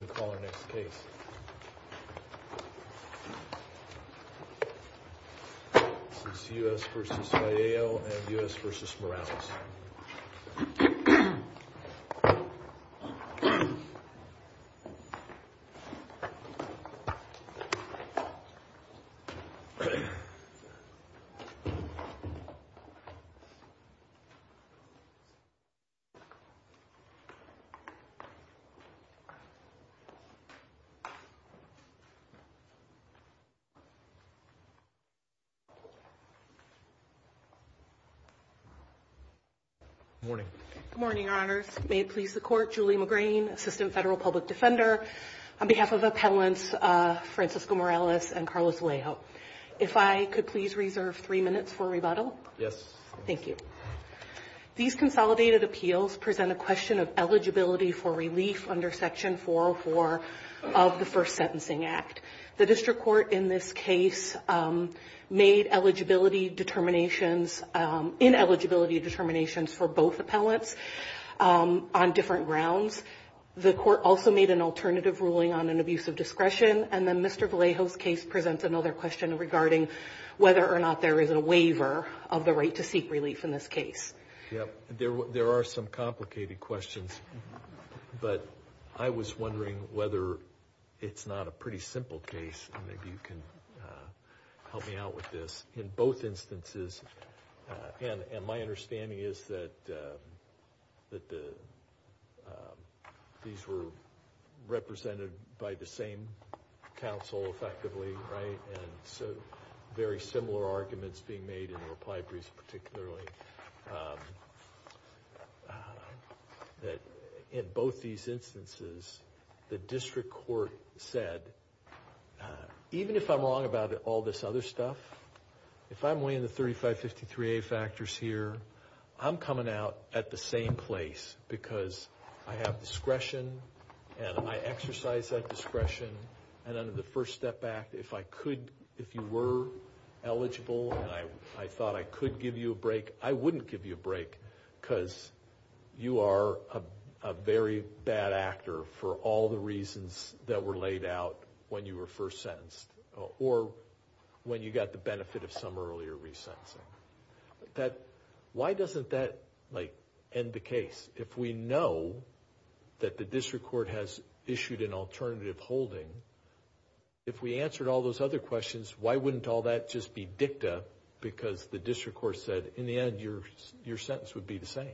We'll call our next case. This is U.S. v. Vallejo and U.S. v. Morales. Good morning, Your Honors. May it please the Court. Julie McGrain, Assistant Federal Public Defender, on behalf of Appellants Francisco Morales and Carlos Vallejo. If I could please reserve three minutes for rebuttal? Yes. Thank you. These consolidated appeals present a question of eligibility for relief under Section 404 of the First Sentencing Act. The district court in this case made eligibility determinations, ineligibility determinations for both appellants on different grounds. The court also made an alternative ruling on an abuse of discretion, and then Mr. Vallejo's case presents another question regarding whether or not there is a waiver of the right to seek relief in this case. Yep. There are some complicated questions, but I was wondering whether it's not a pretty simple case, and maybe you can help me out with this. In both instances, and my understanding is that these were represented by the same counsel effectively, right, and so very similar arguments being made in the reply briefs particularly, that in both these instances, the district court said, even if I'm wrong about all this other stuff, if I'm weighing the 3553A factors here, I'm coming out at the same place because I have discretion, and I exercise that discretion, and under the First Step Act, if I could, if you were eligible, and I thought I could give you a break, I wouldn't give you a break because you are a very bad actor for all the reasons that were laid out when you were first sentenced, or when you got the benefit of some earlier resentencing. Why doesn't that end the case? If we know that the district court has issued an alternative holding, if we answered all those other questions, why wouldn't all that just be dicta because the district court said, in the end, your sentence would be the same?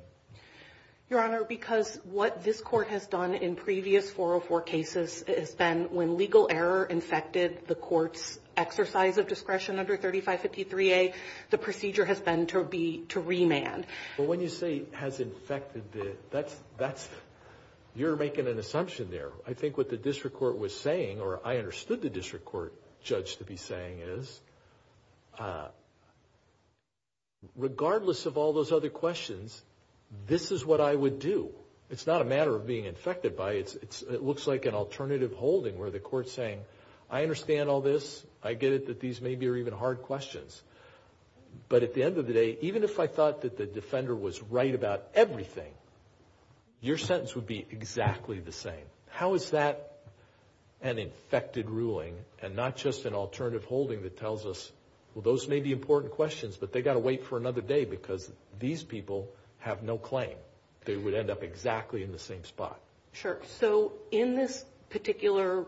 Your Honor, because what this court has done in previous 404 cases has been when legal error infected the court's exercise of discretion under 3553A, the procedure has been to remand. Well, when you say has infected, you're making an assumption there. I think what the district court was saying, or I understood the district court judge to be saying is, regardless of all those other questions, this is what I would do. It's not a matter of being infected by it. It looks like an alternative holding where the court's saying, I understand all this. I get it that these may be even hard questions, but at the end of the day, even if I thought that the defender was right about everything, your sentence would be exactly the same. How is that an infected ruling and not just an alternative holding that tells us, well, those may be important questions, but they got to wait for another day because these people have no claim. They would end up exactly in the same spot. Sure. So, in this particular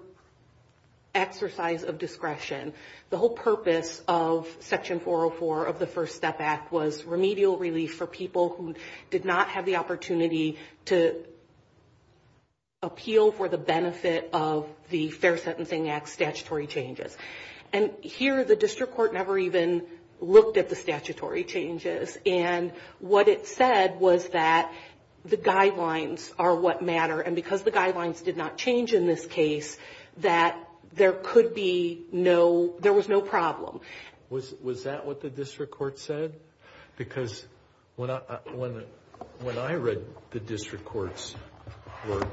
exercise of discretion, the whole purpose of Section 404 of the First Amendment is to appeal relief for people who did not have the opportunity to appeal for the benefit of the Fair Sentencing Act statutory changes. Here, the district court never even looked at the statutory changes. What it said was that the guidelines are what matter, and because the guidelines did not change in this case, that there was no problem. Was that what the district court said? Because when I read the district court's work,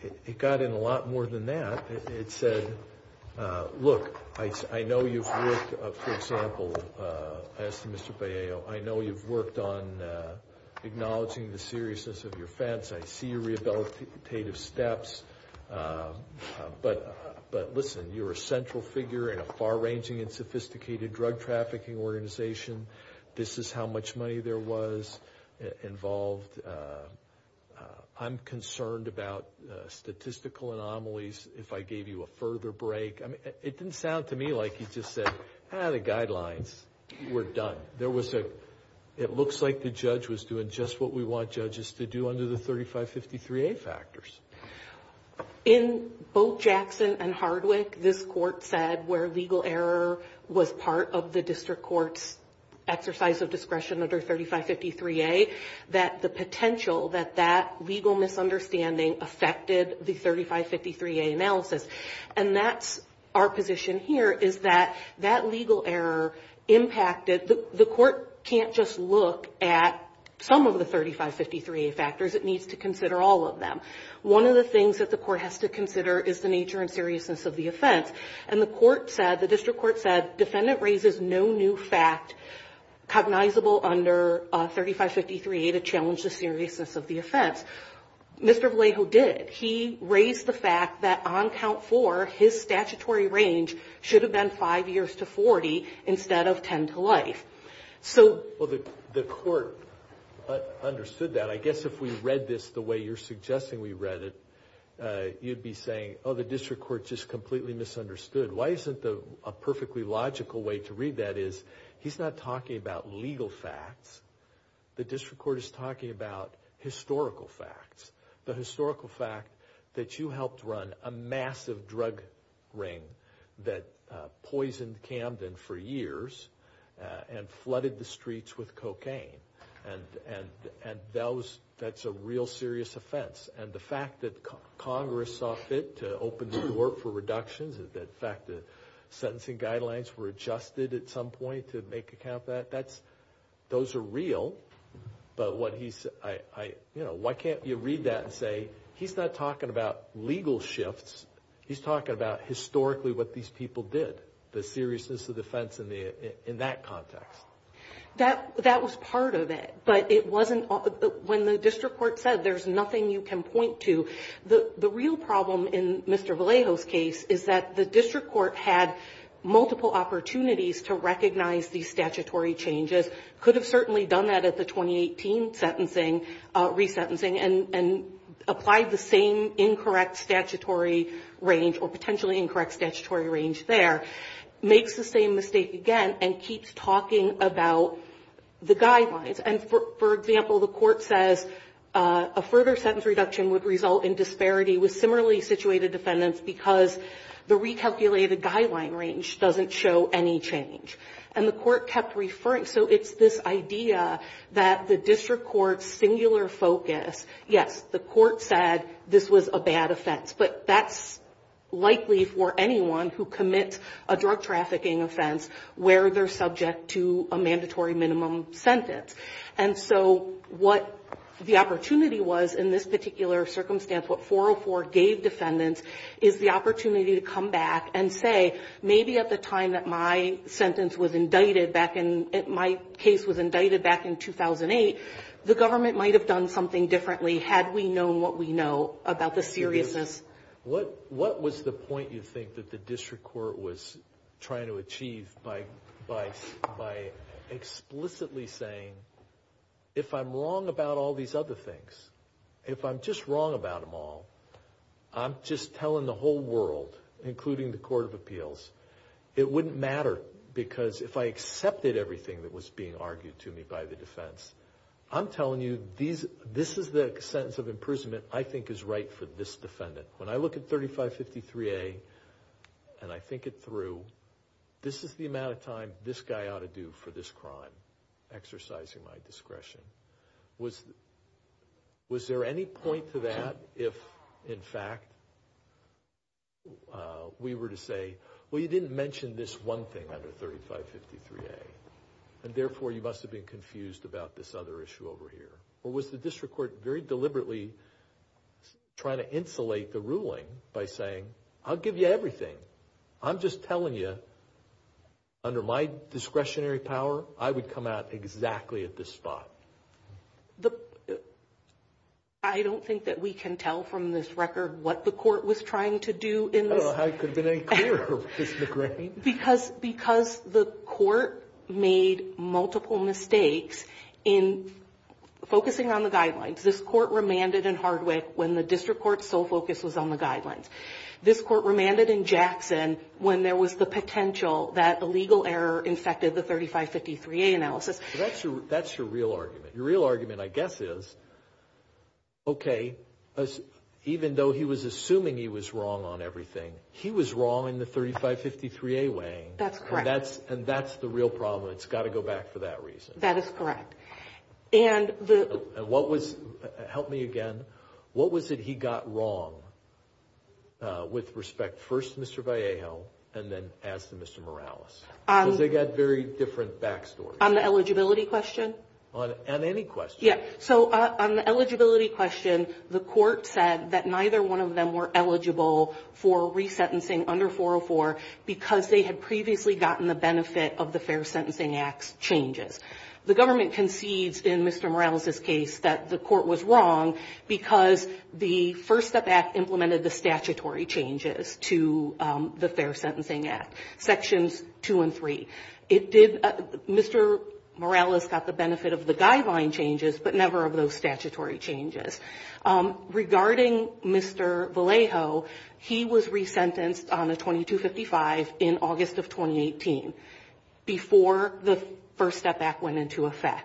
it got in a lot more than that. It said, look, I know you've worked, for example, as to Mr. Palleo, I know you've worked on acknowledging the seriousness of your offense. I see your rehabilitative steps. But listen, you're a central figure in a far-ranging and sophisticated drug trafficking organization. This is how much money there was involved. I'm concerned about statistical anomalies if I gave you a further break. It didn't sound to me like you just said, ah, the guidelines, we're done. It looks like the judge was doing just what we want judges to do under the 3553A factors. In both Jackson and Hardwick, this court said where legal error was part of the district court's exercise of discretion under 3553A, that the potential, that that legal misunderstanding affected the 3553A analysis. And that's our position here, is that that legal error impacted. The court can't just look at some of the 3553A factors. It needs to consider all of them. One of the things that the court has to consider is the nature and seriousness of the offense. And the court said, the district court said, defendant raises no new fact cognizable under 3553A to challenge the seriousness of the offense. Mr. Vallejo did. He raised the fact that on count four, his statutory range should have been five years to 40 instead of 10 to life. So the court understood that. I guess if we read this the way you're suggesting we read it, you'd be saying, oh, the district court just completely misunderstood. Why isn't a perfectly logical way to read that is, he's not talking about legal facts. The district court is talking about historical facts. The historical fact that you helped run a massive drug ring that poisoned Camden for years and flooded the streets with cocaine. And that's a real serious offense. And the fact that Congress saw fit to open the door for reductions, the fact that sentencing guidelines were adjusted at some point to make account of that, those are real. But why can't you read that and say, he's not talking about legal shifts. He's talking about historically what these people did. The seriousness of the offense in that context. That was part of it. But when the district court said there's nothing you can point to, the real problem in Mr. Vallejo's case is that the district court had multiple opportunities to recognize these statutory changes. Could have certainly done that at the 2018 resentencing and applied the same incorrect statutory range or potentially incorrect statutory range there. Makes the same mistake again and keeps talking about the guidelines. And for example, the court says a further sentence reduction would result in disparity with similarly situated defendants because the recalculated guideline range doesn't show any change. And the court kept referring. So it's this idea that the district court's singular focus, yes, the court said this was a bad offense. But that's likely for anyone who commits a drug trafficking offense where they're subject to a mandatory minimum sentence. And so what the opportunity was in this particular circumstance, what 404 gave defendants is the opportunity to come back and say, maybe at the time that my sentence was indicted back in, my case was indicted back in 2008, the government might have done something differently had we known what we know about the seriousness. What was the point you think that the district court was trying to achieve by explicitly saying, if I'm wrong about all these other things, if I'm just wrong about them all, I'm just telling the whole world, including the Court of Appeals, it wouldn't matter because if I accepted everything that was being argued to me by the defense, I'm telling you this is the sentence of imprisonment I think is right for this defendant. When I look at 3553A and I think it through, this is the amount of time this guy ought to do for this crime, exercising my discretion. Was there any point to that if, in fact, we were to say, well, you didn't mention this one thing under 3553A, and therefore you must have been confused about this other issue over here. Or was the district court very deliberately trying to insulate the ruling by saying, I'll give you everything. I'm just telling you, under my discretionary power, I would come out exactly at this spot. I don't think that we can tell from this record what the court was trying to do in this. I don't know how it could have been any clearer, Ms. McGrain. Because the court made multiple mistakes in focusing on the guidelines. This court remanded in Hardwick when the district court's sole focus was on the guidelines. This court remanded in Jackson when there was the potential that a legal error infected the 3553A analysis. That's your real argument. Your real argument, I guess, is, okay, even though he was assuming he was wrong on everything, he was wrong in the 3553A way. That's correct. And that's the real problem. It's got to go back for that reason. That is correct. And what was, help me again, what was it he got wrong with respect first to Mr. Vallejo and then as to Mr. Morales? Because they got very different backstories. On the eligibility question? On any question. Yeah. So on the eligibility question, the court said that neither one of them were eligible for resentencing under 404 because they had previously gotten the benefit of the Fair Sentencing Act's changes. The government concedes in Mr. Morales' case that the court was wrong because the First Step Act implemented the statutory changes to the Fair Sentencing Act, sections two and three. Mr. Morales got the benefit of the guideline changes but never of those statutory changes. Regarding Mr. Vallejo, he was resentenced on a 2255 in August of 2018 before the First Step Act went into effect.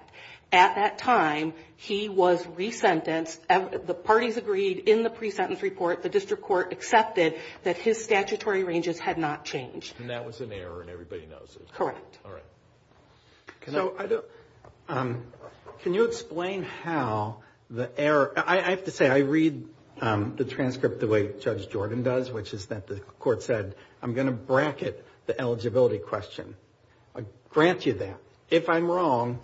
At that time, he was resentenced. The parties agreed in the pre-sentence report, the district court accepted that his statutory ranges had not changed. And that was an error and everybody knows it. Correct. All right. Can you explain how the error... I have to say, I read the transcript the way Judge Jordan does, which is that the court said, I'm going to bracket the eligibility question. I grant you that. If I'm wrong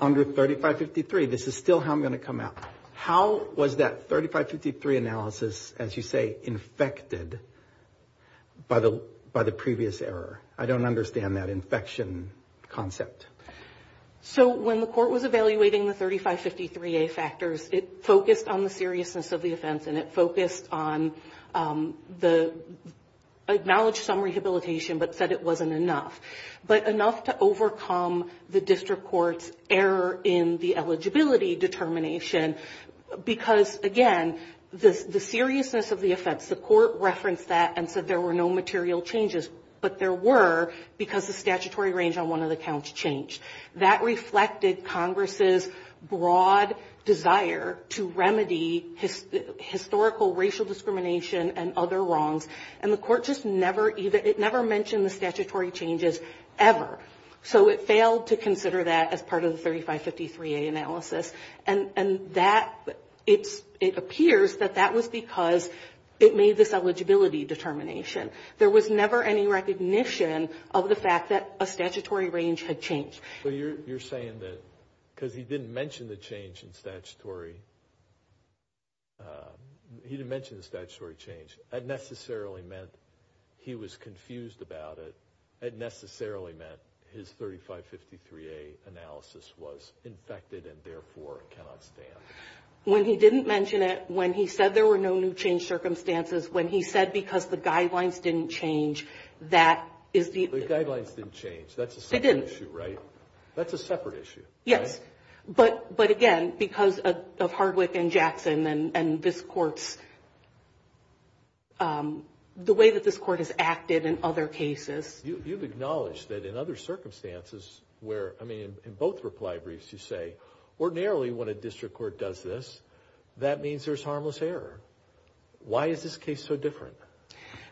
under 3553, this is still how I'm going to come out. How was that 3553 analysis, as you say, infected by the previous error? I don't understand that infection concept. So when the court was evaluating the 3553A factors, it focused on the seriousness of the offense and it focused on the... Acknowledged some rehabilitation but said it wasn't enough. But enough to overcome the district court's error in the eligibility determination. Because, again, the seriousness of the offense, the court referenced that and said there were no material changes. But there were because the statutory range on one of the counts changed. That reflected Congress' broad desire to remedy historical racial discrimination and other wrongs. And the court just never... It never mentioned the statutory changes ever. So it failed to consider that as part of the 3553A analysis. And that... It appears that that was because it made this eligibility determination. There was never any recognition of the fact that a statutory range had changed. So you're saying that because he didn't mention the change in statutory... It necessarily meant he was confused about it. It necessarily meant his 3553A analysis was infected and therefore cannot stand. When he didn't mention it, when he said there were no new change circumstances, when he said because the guidelines didn't change, that is the... The guidelines didn't change. That's a separate issue, right? That's a separate issue, right? Yes. But again, because of Hardwick and Jackson and this court's... The way that this court has acted in other cases... You've acknowledged that in other circumstances where... I mean, in both reply briefs you say, ordinarily when a district court does this, that means there's harmless error. Why is this case so different?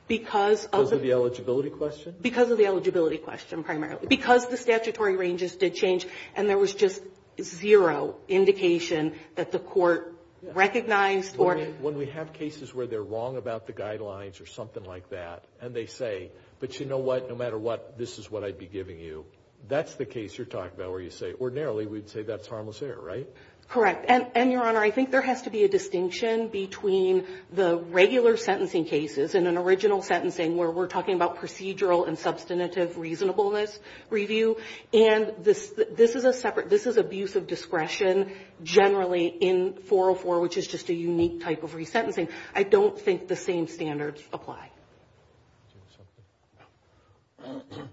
Because of... Because of the eligibility question? Because of the eligibility question primarily. Because the statutory ranges did change and there was just zero indication that the court recognized or... When we have cases where they're wrong about the guidelines or something like that and they say, but you know what, no matter what, this is what I'd be giving you, that's the case you're talking about where you say, ordinarily we'd say that's harmless error, right? Correct. And, Your Honor, I think there has to be a distinction between the regular sentencing cases and an original sentencing where we're talking about procedural and substantive reasonableness review. And this is a separate... This is abuse of discretion generally in 404, which is just a unique type of resentencing. I don't think the same standards apply.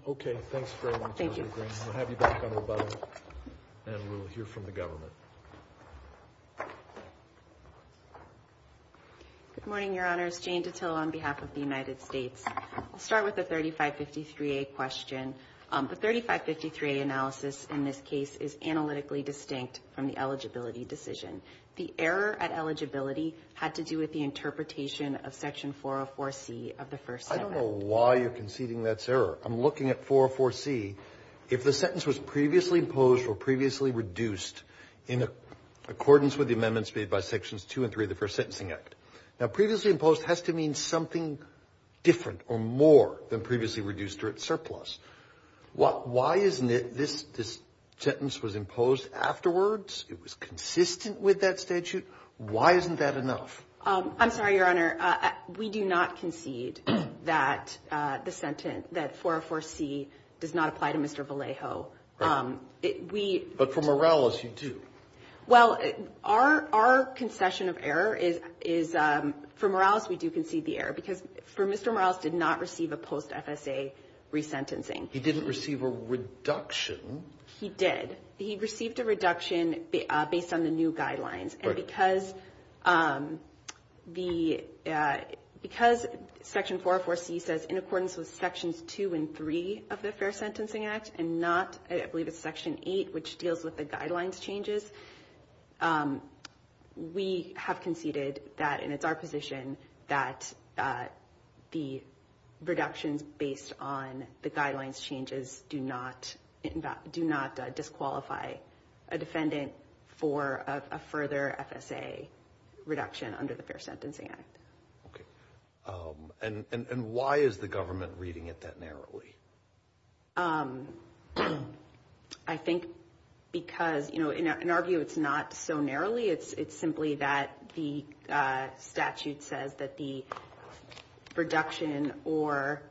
Okay. Thanks very much, Dr. Green. Thank you. We'll have you back on rebuttal and we'll hear from the government. Good morning, Your Honors. Jane Ditill on behalf of the United States. I'll start with the 3553A question. The 3553A analysis in this case is analytically distinct from the eligibility decision. The error at eligibility had to do with the interpretation of Section 404C of the First Sentencing Act. I don't know why you're conceding that's error. I'm looking at 404C. If the sentence was previously imposed or previously reduced in accordance with the amendments made by Sections 2 and 3 of the First Sentencing Act. Now, previously imposed has to mean something different or more than previously reduced or at surplus. Why isn't it this sentence was imposed afterwards? It was consistent with that statute. Why isn't that enough? I'm sorry, Your Honor. We do not concede that the sentence, that 404C does not apply to Mr. Vallejo. We... But for Morales, you do. Well, our concession of error is, for Morales, we do concede the error because for Mr. Morales did not receive a post-FSA resentencing. He didn't receive a reduction. He did. He received a reduction based on the new guidelines. Right. And because Section 404C says in accordance with Sections 2 and 3 of the Fair Sentencing Act and not, I believe it's Section 8, which deals with the guidelines changes, we have conceded that, and it's our position, that the reductions based on the guidelines changes do not disqualify a defendant for a further FSA reduction under the Fair Sentencing Act. Okay. And why is the government reading it that narrowly? I think because, you know, in our view, it's not so narrowly. It's simply that the statute says that the reduction or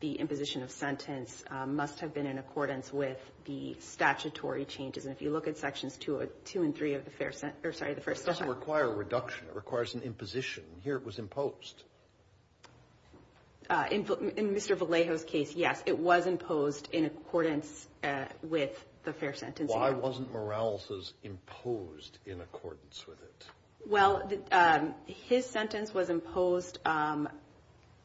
the imposition of sentence must have been in accordance with the statutory changes. And if you look at Sections 2 and 3 of the Fair... I'm sorry, the first section... It doesn't require a reduction. It requires an imposition. Here it was imposed. In Mr. Vallejo's case, yes, it was imposed in accordance with the Fair Sentencing Act. Why wasn't Morales's imposed in accordance with it? Well, his sentence was imposed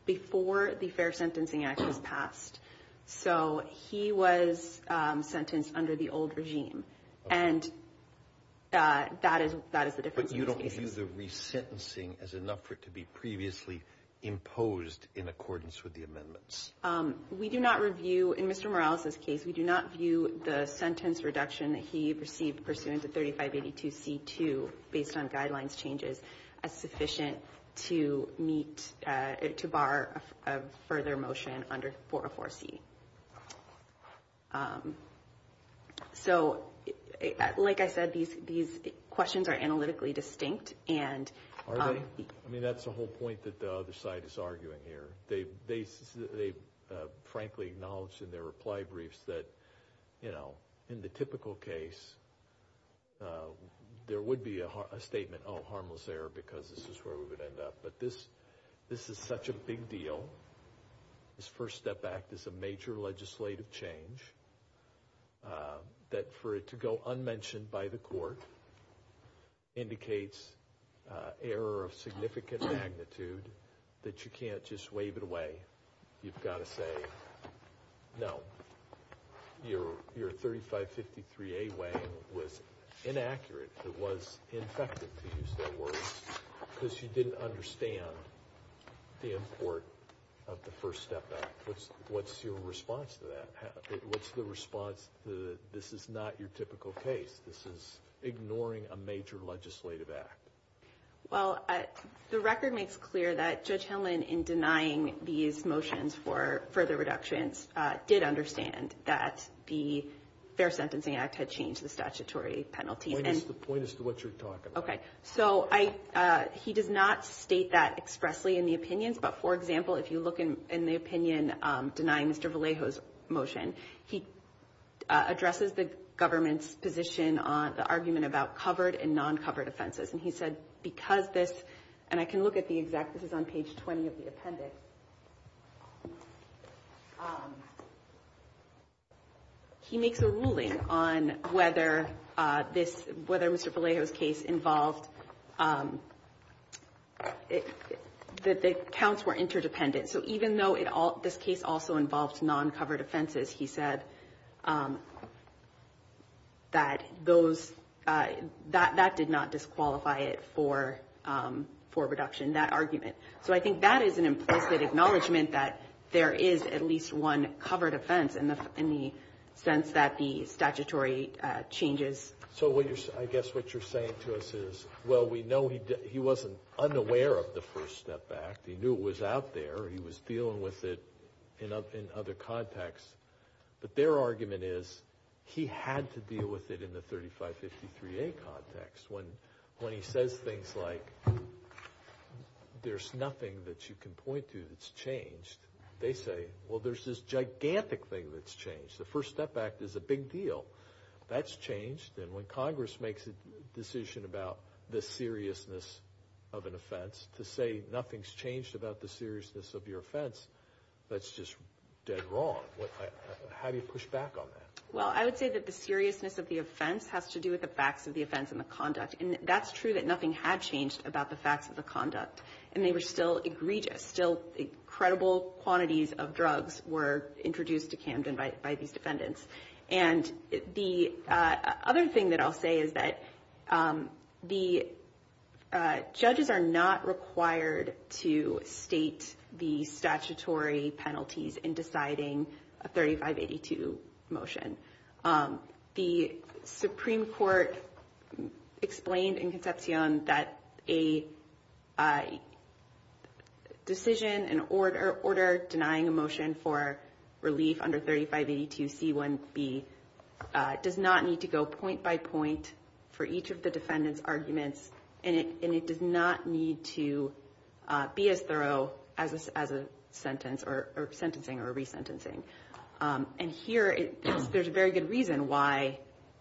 before the Fair Sentencing Act was passed. So he was sentenced under the old regime, and that is the difference in these cases. Do you view the resentencing as enough for it to be previously imposed in accordance with the amendments? We do not review, in Mr. Morales's case, we do not view the sentence reduction that he perceived pursuant to 3582C2 based on guidelines changes as sufficient to meet, to bar a further motion under 404C. So, like I said, these questions are analytically distinct and... Are they? I mean, that's the whole point that the other side is arguing here. They've frankly acknowledged in their reply briefs that, you know, in the typical case, there would be a statement, oh, harmless error because this is where we would end up. But this is such a big deal. This First Step Act is a major legislative change, that for it to go unmentioned by the court indicates error of significant magnitude that you can't just wave it away. You've got to say, no, your 3553A way was inaccurate. It was infected, to use their words, because you didn't understand the import of the First Step Act. What's your response to that? What's the response to this is not your typical case? This is ignoring a major legislative act. Well, the record makes clear that Judge Hillman, in denying these motions for further reductions, did understand that the Fair Sentencing Act had changed the statutory penalty. Point us to what you're talking about. Okay, so he does not state that expressly in the opinions. But, for example, if you look in the opinion denying Mr. Vallejo's motion, he addresses the government's position on the argument about covered and non-covered offenses. And he said, because this – and I can look at the exact – this is on page 20 of the appendix. He makes a ruling on whether this – whether Mr. Vallejo's case involved – that the counts were interdependent. So even though this case also involved non-covered offenses, he said that those – that that did not disqualify it for reduction, that argument. So I think that is an implicit acknowledgment that there is at least one covered offense in the sense that the statutory changes. So I guess what you're saying to us is, well, we know he wasn't unaware of the First Step Act. He knew it was out there. He was dealing with it in other contexts. But their argument is he had to deal with it in the 3553A context. When he says things like, there's nothing that you can point to that's changed, they say, well, there's this gigantic thing that's changed. The First Step Act is a big deal. That's changed. And when Congress makes a decision about the seriousness of an offense, to say nothing's changed about the seriousness of your offense, that's just dead wrong. How do you push back on that? Well, I would say that the seriousness of the offense has to do with the facts of the offense and the conduct. And that's true that nothing had changed about the facts of the conduct. And they were still egregious, still incredible quantities of drugs were introduced to Camden by these defendants. And the other thing that I'll say is that the judges are not required to state the statutory penalties in deciding a 3582 motion. The Supreme Court explained in Concepcion that a decision, an order denying a motion for relief under 3582C1B does not need to go point by point for each of the defendant's arguments. And it does not need to be as thorough as a sentence or sentencing or resentencing. And here, there's a very good reason why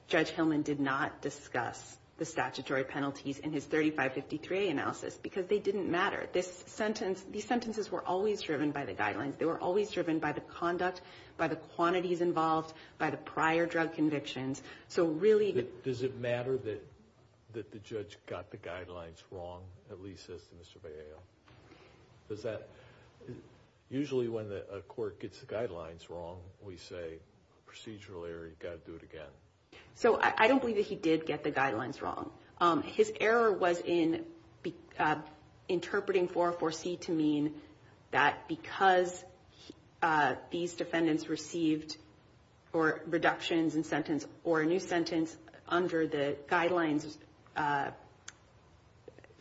Judge Hillman did not discuss the statutory penalties in his 3553A analysis. Because they didn't matter. These sentences were always driven by the guidelines. They were always driven by the conduct, by the quantities involved, by the prior drug convictions. So really the... Does it matter that the judge got the guidelines wrong, at least as to Mr. Vallejo? Does that... Usually when a court gets the guidelines wrong, we say, procedural error, you've got to do it again. So I don't believe that he did get the guidelines wrong. His error was in interpreting 404C to mean that because these defendants received reductions in sentence or a new sentence under the guidelines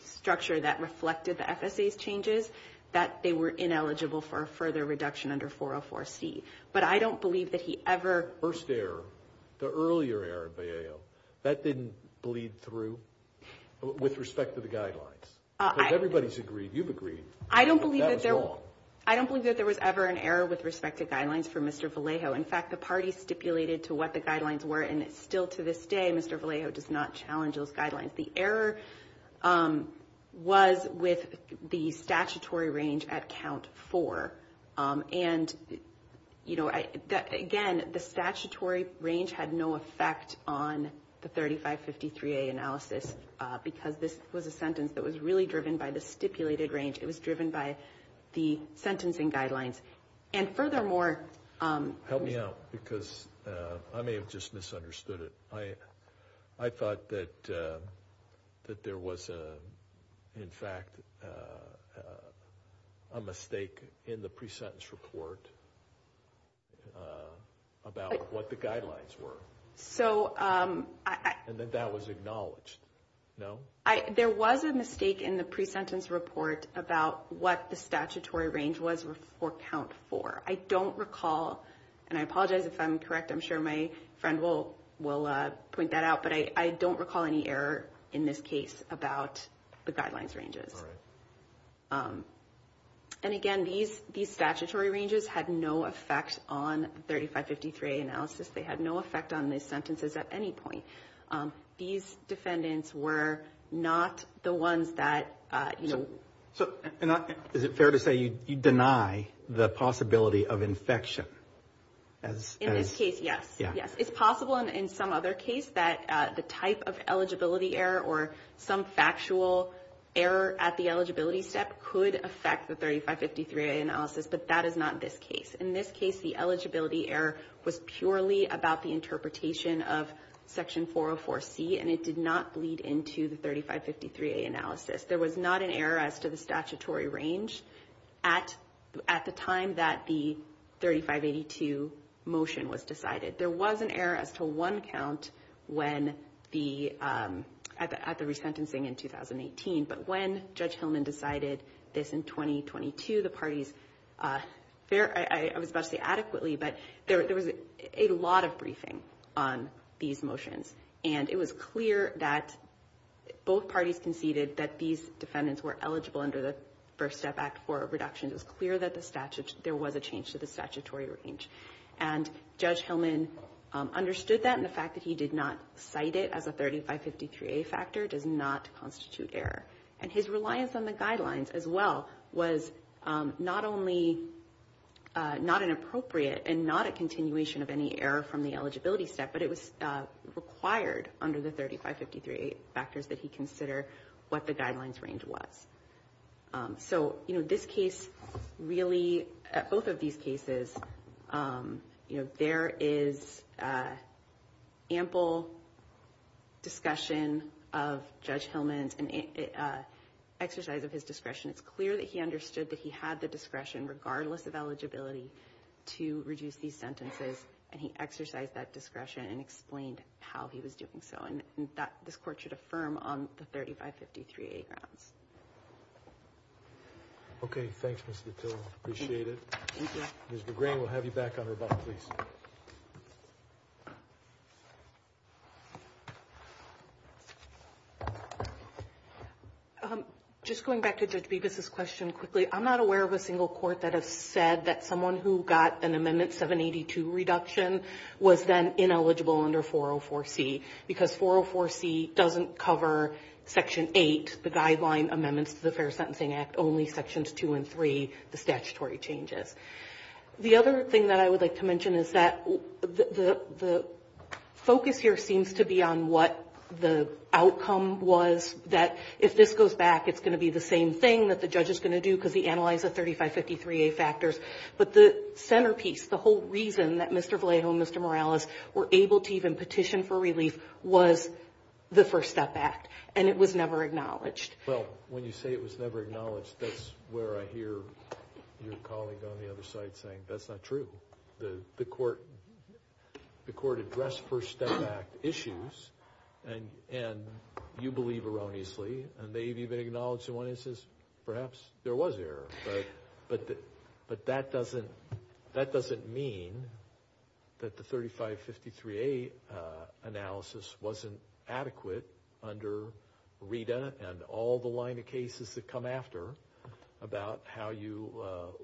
structure that reflected the FSA's changes, that they were ineligible for a further reduction under 404C. But I don't believe that he ever... First error, the earlier error in Vallejo, that didn't bleed through with respect to the guidelines. Everybody's agreed. You've agreed. I don't believe that there... That was wrong. I don't believe that there was ever an error with respect to guidelines for Mr. Vallejo. In fact, the party stipulated to what the guidelines were, and still to this day, Mr. Vallejo does not challenge those guidelines. The error was with the statutory range at count four. And, you know, again, the statutory range had no effect on the 3553A analysis because this was a sentence that was really driven by the stipulated range. It was driven by the sentencing guidelines. And furthermore... Help me out because I may have just misunderstood it. I thought that there was, in fact, a mistake in the pre-sentence report about what the guidelines were. So I... And that that was acknowledged. No? There was a mistake in the pre-sentence report about what the statutory range was for count four. I don't recall, and I apologize if I'm correct. I'm sure my friend will point that out. But I don't recall any error in this case about the guidelines ranges. All right. And, again, these statutory ranges had no effect on the 3553A analysis. They had no effect on the sentences at any point. These defendants were not the ones that, you know... Is it fair to say you deny the possibility of infection? In this case, yes. It's possible in some other case that the type of eligibility error or some factual error at the eligibility step could affect the 3553A analysis, but that is not this case. In this case, the eligibility error was purely about the interpretation of Section 404C, and it did not bleed into the 3553A analysis. There was not an error as to the statutory range at the time that the 3582 motion was decided. There was an error as to one count at the resentencing in 2018, but when Judge Hillman decided this in 2022, the parties... I was about to say adequately, but there was a lot of briefing on these motions, and it was clear that both parties conceded that these defendants were eligible under the First Step Act for a reduction. It was clear that there was a change to the statutory range. And Judge Hillman understood that, and the fact that he did not cite it as a 3553A factor does not constitute error. And his reliance on the guidelines as well was not only not inappropriate and not a continuation of any error from the eligibility step, but it was required under the 3553A factors that he consider what the guidelines range was. So this case really, both of these cases, there is ample discussion of Judge Hillman's exercise of his discretion. It's clear that he understood that he had the discretion, regardless of eligibility, to reduce these sentences, and he exercised that discretion and explained how he was doing so. And this Court should affirm on the 3553A grounds. Okay. Thanks, Ms. Vitilla. Appreciate it. Ms. McGrain, we'll have you back on rebuttal, please. Just going back to Judge Bevis' question quickly, I'm not aware of a single court that has said that someone who got an Amendment 782 reduction was then ineligible under 404C, because 404C doesn't cover Section 8, the guideline amendments to the Fair Sentencing Act, only Sections 2 and 3, the statutory changes. The other thing that I would like to mention is that the focus here seems to be on what the outcome was, that if this goes back, it's going to be the same thing that the judge is going to do because he analyzed the 3553A factors. But the centerpiece, the whole reason that Mr. Vallejo and Mr. Morales were able to even petition for relief was the First Step Act, and it was never acknowledged. Well, when you say it was never acknowledged, that's where I hear your colleague on the other side saying, that's not true. The Court addressed First Step Act issues, and you believe erroneously, and they've even acknowledged in one instance perhaps there was error. But that doesn't mean that the 3553A analysis wasn't adequate under Rita and all the line of cases that come after about how you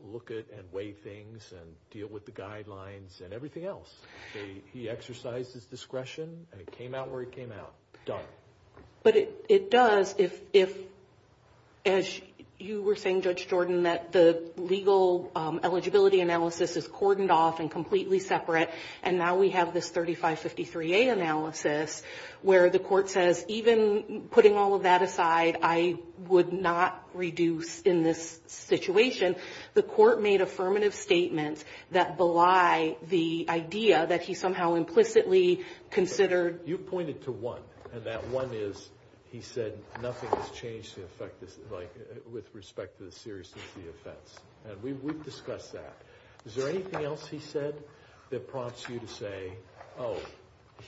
look at and weigh things and deal with the guidelines and everything else. He exercised his discretion, and it came out where it came out. Done. But it does if, as you were saying, Judge Jordan, that the legal eligibility analysis is cordoned off and completely separate, and now we have this 3553A analysis where the Court says, even putting all of that aside, I would not reduce in this situation. The Court made affirmative statements that belie the idea that he somehow implicitly considered. You pointed to one, and that one is he said nothing has changed with respect to the seriousness of the offense, and we've discussed that. Is there anything else he said that prompts you to say, oh,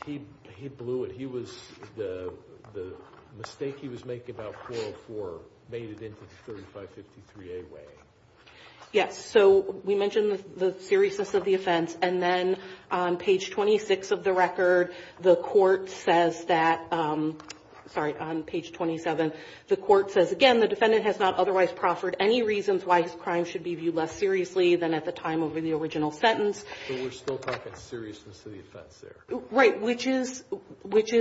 he blew it, the mistake he was making about 404 made it into the 3553A way? Yes. So we mentioned the seriousness of the offense, and then on page 26 of the record, the Court says that, sorry, on page 27, the Court says, again, the defendant has not otherwise proffered any reasons why his crime should be viewed less seriously than at the time of the original sentence. But we're still talking seriousness of the offense there. Right, which is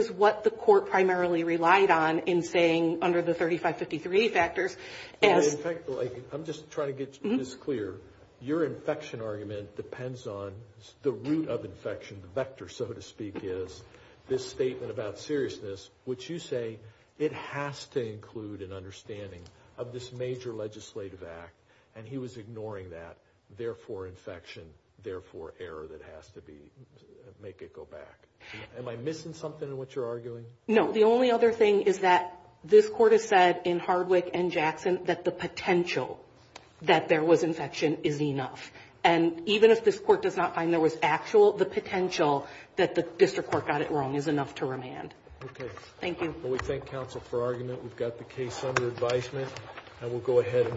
what the Court primarily relied on in saying under the 3553A factors. In fact, I'm just trying to get this clear. Your infection argument depends on the root of infection, the vector, so to speak, is this statement about seriousness, which you say it has to include an understanding of this major legislative act, and he was ignoring that, therefore infection, therefore error that has to make it go back. Am I missing something in what you're arguing? No. The only other thing is that this Court has said in Hardwick and Jackson that the potential that there was infection is enough. And even if this Court does not find there was actual, the potential that the district court got it wrong is enough to remand. Okay. Thank you. Well, we thank counsel for argument. We've got the case under advisement, and we'll go ahead.